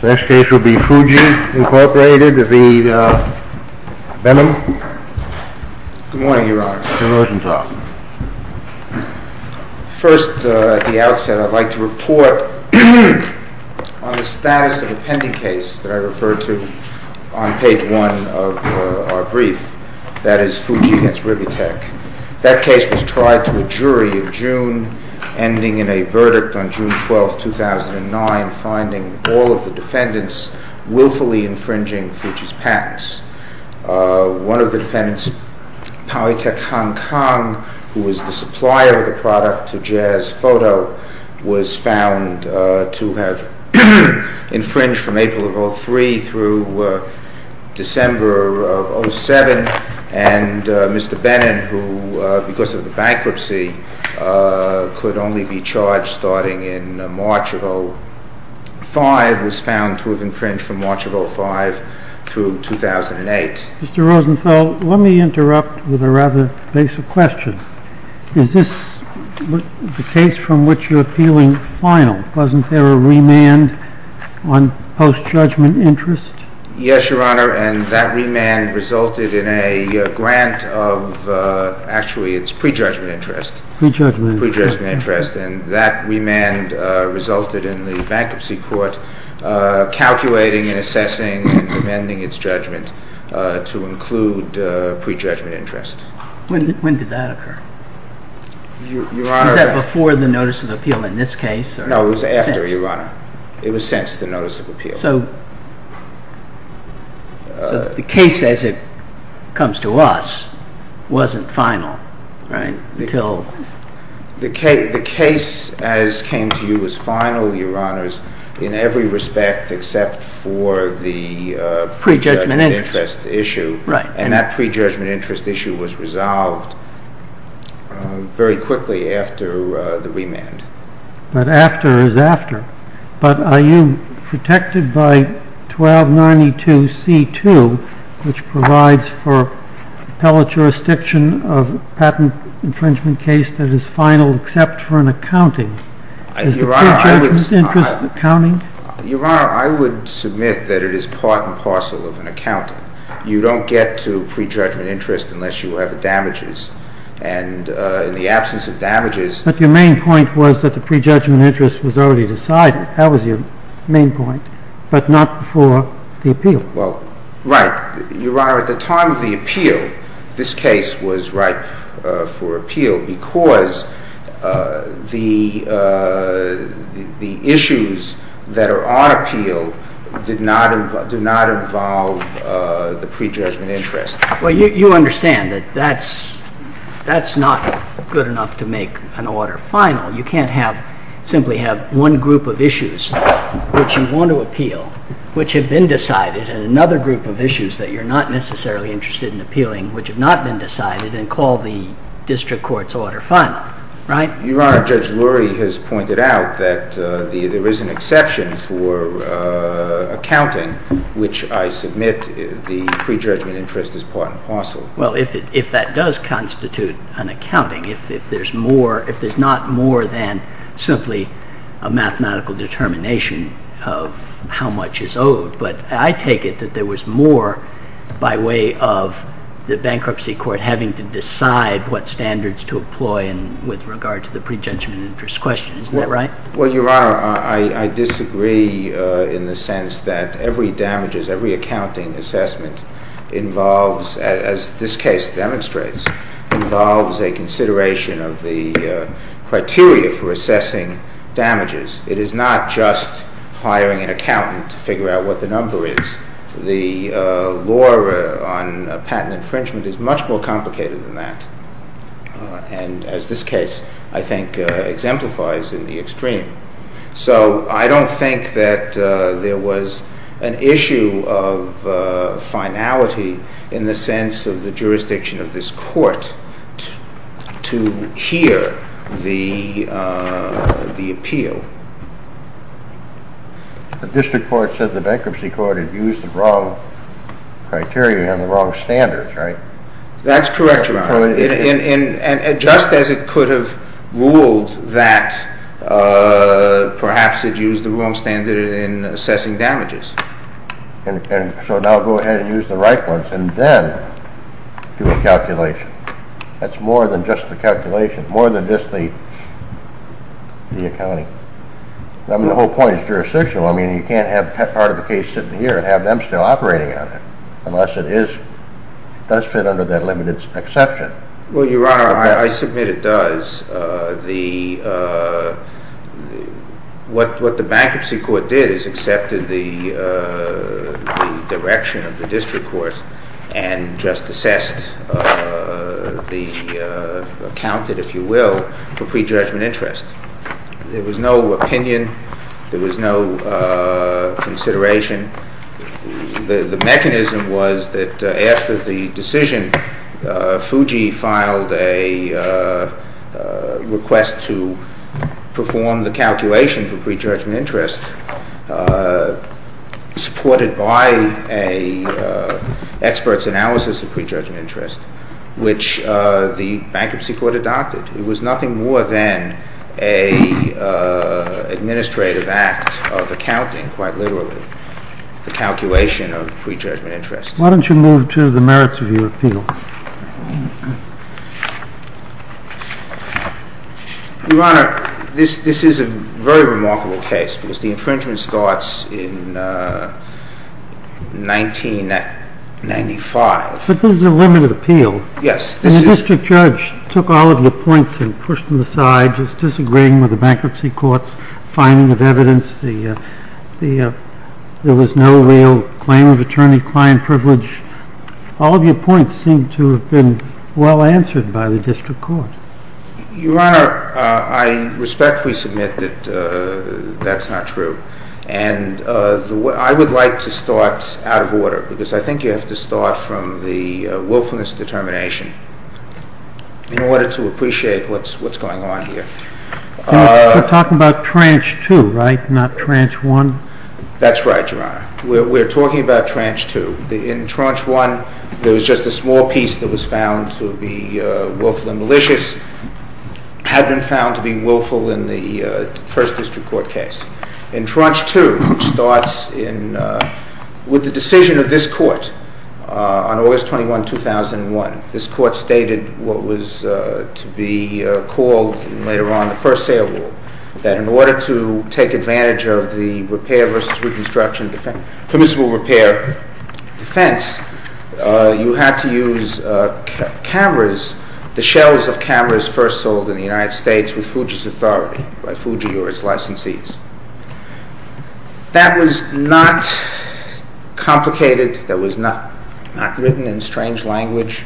Good morning, Your Honor. First, at the outset, I would like to report on the status of a pending case that I referred to on page 1 of our brief, that is Fuji against Ribitech. That case was tried to a jury in June, ending in a verdict on June 12, 2009, finding all of the defendants willfully infringing Fuji's patents. One of the defendants, Powitech Hong Kong, who was the supplier of the product to Jazz Photo, was found to have infringed from April of 2003 through December of 2007. And Mr. Benun, who, because of the bankruptcy, could only be charged starting in March of 2005, was found to have infringed from March of 2005 through 2008. Mr. Rosenthal, let me interrupt with a rather basic question. Is this the case from which you're appealing final? Wasn't there a remand on post-judgment interest? Yes, Your Honor, and that remand resulted in a grant of, actually, it's pre-judgment interest. Pre-judgment interest. Pre-judgment interest, and that remand resulted in the Bankruptcy Court calculating and assessing and amending its judgment to include pre-judgment interest. When did that occur? Your Honor. Was that before the notice of appeal in this case? No, it was after, Your Honor. It was since the notice of appeal. So the case, as it comes to us, wasn't final, right? The case, as came to you, was final, Your Honors, in every respect except for the pre-judgment interest issue. Right. And that pre-judgment interest issue was resolved very quickly after the remand. But after is after. But are you protected by 1292C2, which provides for appellate jurisdiction of patent infringement case that is final except for an accounting? Is the pre-judgment interest accounting? Your Honor, I would submit that it is part and parcel of an accounting. You don't get to pre-judgment interest unless you have damages, and in the absence of damages… But your main point was that the pre-judgment interest was already decided. That was your main point, but not before the appeal. Well, right. Your Honor, at the time of the appeal, this case was right for appeal because the issues that are on appeal do not involve the pre-judgment interest. Well, you understand that that's not good enough to make an order final. You can't simply have one group of issues which you want to appeal, which have been decided, and another group of issues that you're not necessarily interested in appealing, which have not been decided, and call the district court's order final, right? Your Honor, Judge Lurie has pointed out that there is an exception for accounting, which I submit the pre-judgment interest is part and parcel. Well, if that does constitute an accounting, if there's not more than simply a mathematical determination of how much is owed, but I take it that there was more by way of the bankruptcy court having to decide what standards to employ with regard to the pre-judgment interest question. Isn't that right? Well, Your Honor, I disagree in the sense that every damages, every accounting assessment involves, as this case demonstrates, involves a consideration of the criteria for assessing damages. It is not just hiring an accountant to figure out what the number is. The law on patent infringement is much more complicated than that, and as this case, I think, exemplifies in the extreme. So, I don't think that there was an issue of finality in the sense of the jurisdiction of this court to hear the appeal. The district court said the bankruptcy court had used the wrong criteria and the wrong standards, right? That's correct, Your Honor. And just as it could have ruled that perhaps it used the wrong standard in assessing damages. And so now go ahead and use the right ones and then do a calculation. That's more than just a calculation, more than just the accounting. I mean, the whole point is jurisdictional. I mean, you can't have part of the case sitting here and have them still operating on it unless it does fit under that limited exception. Well, Your Honor, I submit it does. What the bankruptcy court did is accepted the direction of the district court and just assessed the accountant, if you will, for pre-judgment interest. There was no opinion. There was no consideration. The mechanism was that after the decision, Fuji filed a request to perform the calculation for pre-judgment interest supported by an expert's analysis of pre-judgment interest, which the bankruptcy court adopted. It was nothing more than an administrative act of accounting, quite literally, for calculation of pre-judgment interest. Why don't you move to the merits of your appeal? Your Honor, this is a very remarkable case because the infringement starts in 1995. But this is a limited appeal. Yes, this is. The district judge took all of your points and pushed them aside, just disagreeing with the bankruptcy court's finding of evidence. There was no real claim of attorney-client privilege. All of your points seem to have been well answered by the district court. Your Honor, I respectfully submit that that's not true. I would like to start out of order because I think you have to start from the willfulness determination in order to appreciate what's going on here. We're talking about tranche two, right? Not tranche one? That's right, Your Honor. We're talking about tranche two. In tranche one, there was just a small piece that was found to be willful and malicious, had been found to be willful in the first district court case. In tranche two, it starts with the decision of this court on August 21, 2001. This court stated what was to be called later on the first sale rule, that in order to take advantage of the permissible repair defense, you had to use cameras, the shells of cameras first sold in the United States with Fuji's authority, by Fuji or its licensees. That was not complicated. That was not written in strange language.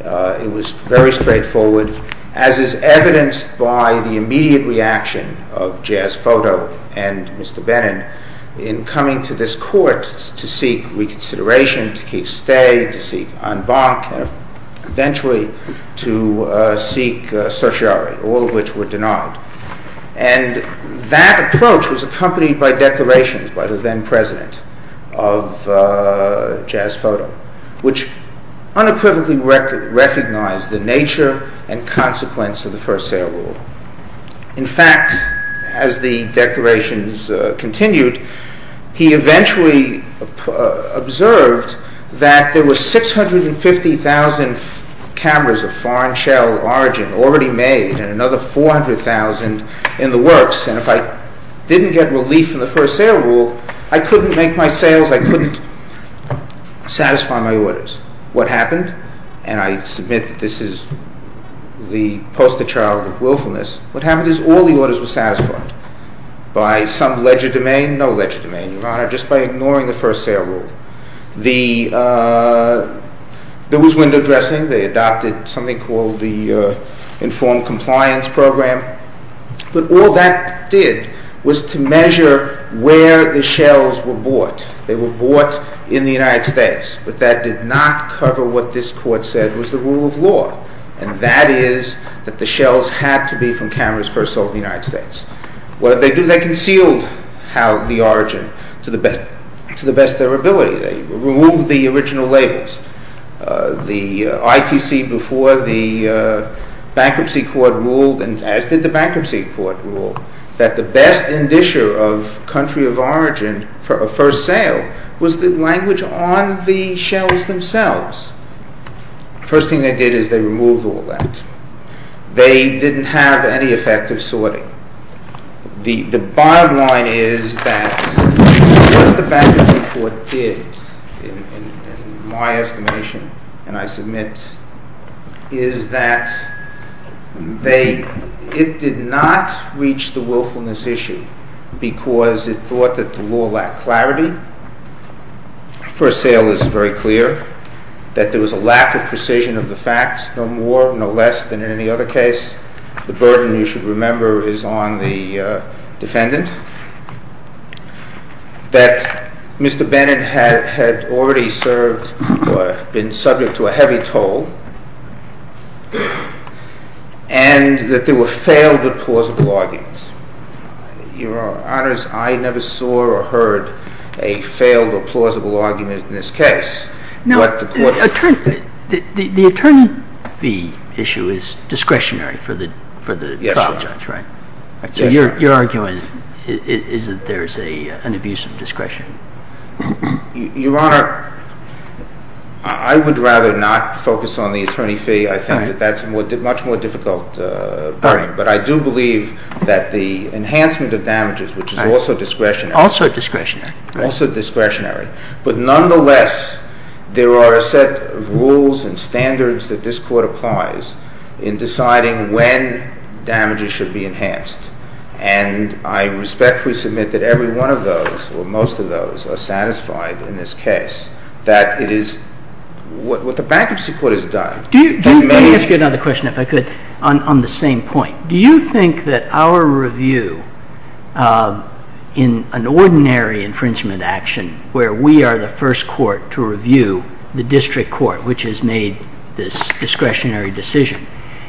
It was very straightforward, as is evidenced by the immediate reaction of Jazz Photo and Mr. Benin in coming to this court to seek reconsideration, to seek stay, to seek en banc, and eventually to seek certiorari, all of which were denied. And that approach was accompanied by declarations by the then president of Jazz Photo, which unequivocally recognized the nature and consequence of the first sale rule. In fact, as the declarations continued, he eventually observed that there were 650,000 cameras of foreign shell origin already made, and another 400,000 in the works, and if I didn't get relief from the first sale rule, I couldn't make my sales, I couldn't satisfy my orders. What happened, and I submit that this is the poster child of willfulness, what happened is all the orders were satisfied by some ledger domain, no ledger domain, Your Honor, just by ignoring the first sale rule. There was window dressing, they adopted something called the informed compliance program, but all that did was to measure where the shells were bought. They were bought in the United States, but that did not cover what this court said was the rule of law, and that is that the shells had to be from cameras first sold in the United States. What did they do? They concealed the origin to the best of their ability. They removed the original labels. The ITC before the bankruptcy court ruled, and as did the bankruptcy court rule, that the best indisher of country of origin for a first sale was the language on the shells themselves. First thing they did is they removed all that. They didn't have any effective sorting. The bottom line is that what the bankruptcy court did, in my estimation and I submit, is that it did not reach the willfulness issue because it thought that the law lacked clarity. First sale is very clear, that there was a lack of precision of the facts, no more, no less than in any other case. The burden, you should remember, is on the defendant, that Mr. Bennett had already served or been subject to a heavy toll, and that there were failed but plausible arguments. Your Honors, I never saw or heard a failed or plausible argument in this case. The attorney fee issue is discretionary for the trial judge, right? Yes, Your Honor. So your argument is that there is an abuse of discretion? Your Honor, I would rather not focus on the attorney fee. I think that that's a much more difficult burden. But I do believe that the enhancement of damages, which is also discretionary. Also discretionary. But nonetheless, there are a set of rules and standards that this Court applies in deciding when damages should be enhanced. And I respectfully submit that every one of those, or most of those, are satisfied in this case that it is what the bankruptcy court has done. Let me ask you another question, if I could, on the same point. Do you think that our review in an ordinary infringement action, where we are the first court to review the district court, which has made this discretionary decision,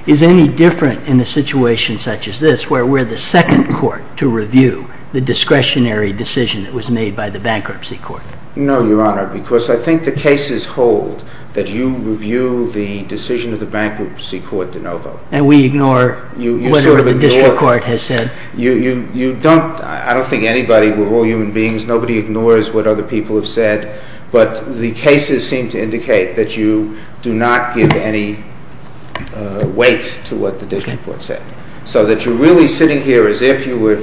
is any different in a situation such as this, where we're the second court to review the discretionary decision that was made by the bankruptcy court? No, Your Honor, because I think the cases hold that you review the decision of the bankruptcy court de novo. And we ignore whatever the district court has said? I don't think anybody, we're all human beings, nobody ignores what other people have said. But the cases seem to indicate that you do not give any weight to what the district court said. So that you're really sitting here as if you were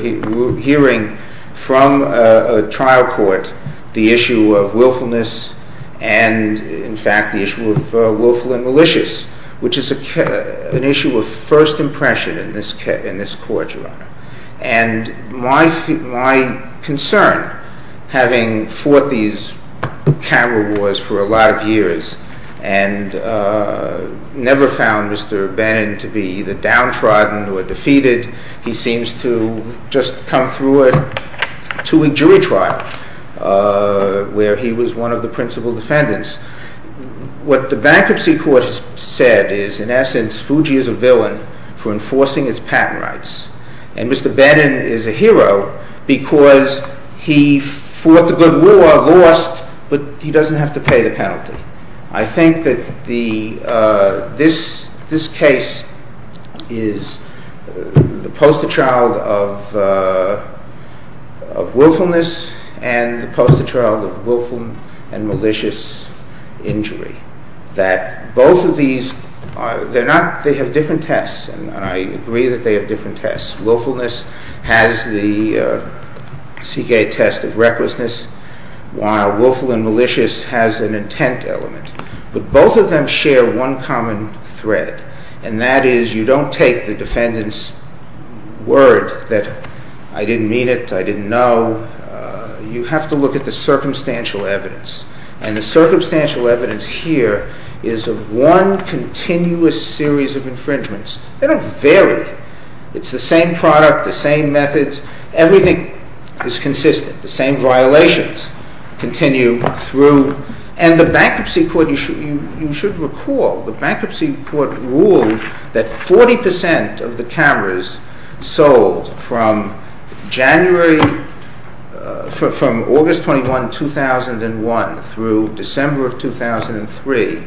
hearing from a trial court the issue of willfulness, and in fact the issue of willful and malicious, which is an issue of first impression in this court, Your Honor. And my concern, having fought these camera wars for a lot of years, and never found Mr. Bannon to be either downtrodden or defeated, he seems to just come through to a jury trial where he was one of the principal defendants. What the bankruptcy court has said is, in essence, Fuji is a villain for enforcing its patent rights. And Mr. Bannon is a hero because he fought the good war, lost, but he doesn't have to pay the penalty. I think that this case is the poster child of willfulness and the poster child of willful and malicious injury. That both of these, they have different tests, and I agree that they have different tests. Willfulness has the CK test of recklessness, while willful and malicious has an intent element. But both of them share one common thread, and that is you don't take the defendant's word that, I didn't mean it, I didn't know, you have to look at the circumstantial evidence. And the circumstantial evidence here is of one continuous series of infringements. They don't vary. It's the same product, the same methods, everything is consistent. The same violations continue through. And the bankruptcy court, you should recall, the bankruptcy court ruled that 40% of the cameras sold from August 21, 2001 through December of 2003,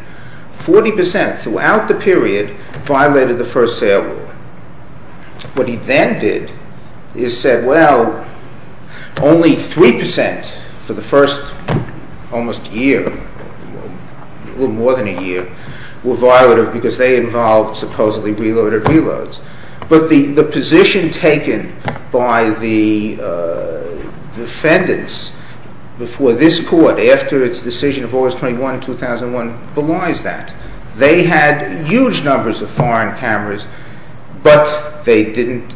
40% throughout the period, violated the first sale rule. What he then did is said, well, only 3% for the first almost year, a little more than a year, were violative because they involved supposedly reloaded reloads. But the position taken by the defendants before this court, after its decision of August 21, 2001, belies that. They had huge numbers of foreign cameras, but they didn't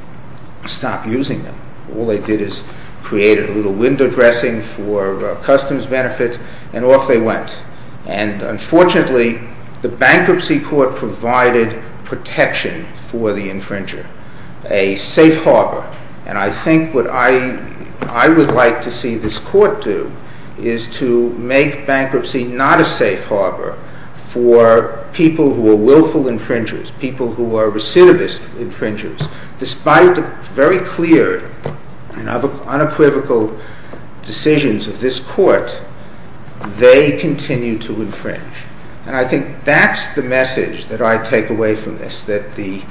stop using them. All they did is created a little window dressing for customs benefit, and off they went. And unfortunately, the bankruptcy court provided protection for the infringer, a safe harbor. And I think what I would like to see this court do is to make bankruptcy not a safe harbor for people who are willful infringers, people who are recidivist infringers. Despite the very clear and unequivocal decisions of this court, they continue to infringe. And I think that's the message that I take away from this, that the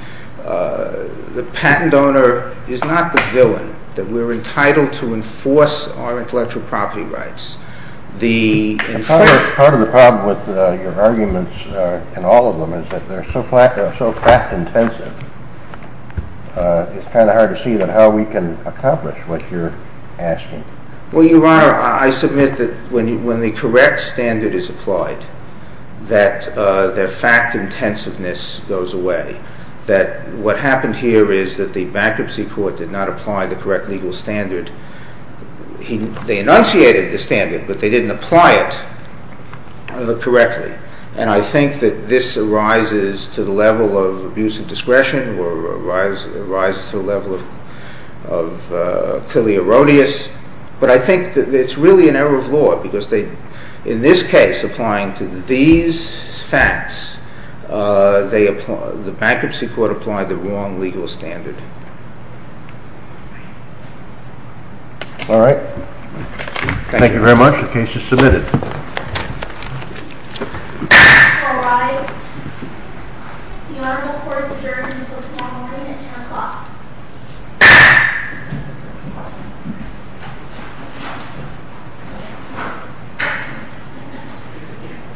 patent owner is not the villain, that we're entitled to enforce our intellectual property rights. Part of the problem with your arguments, and all of them, is that they're so fact-intensive, it's kind of hard to see how we can accomplish what you're asking. Well, Your Honor, I submit that when the correct standard is applied, that the fact-intensiveness goes away. That what happened here is that the bankruptcy court did not apply the correct legal standard. They enunciated the standard, but they didn't apply it correctly. And I think that this arises to the level of abuse of discretion, or arises to the level of clearly erroneous. But I think that it's really an error of law, because in this case, applying to these facts, the bankruptcy court applied the wrong legal standard. All right. Thank you very much. The case is submitted.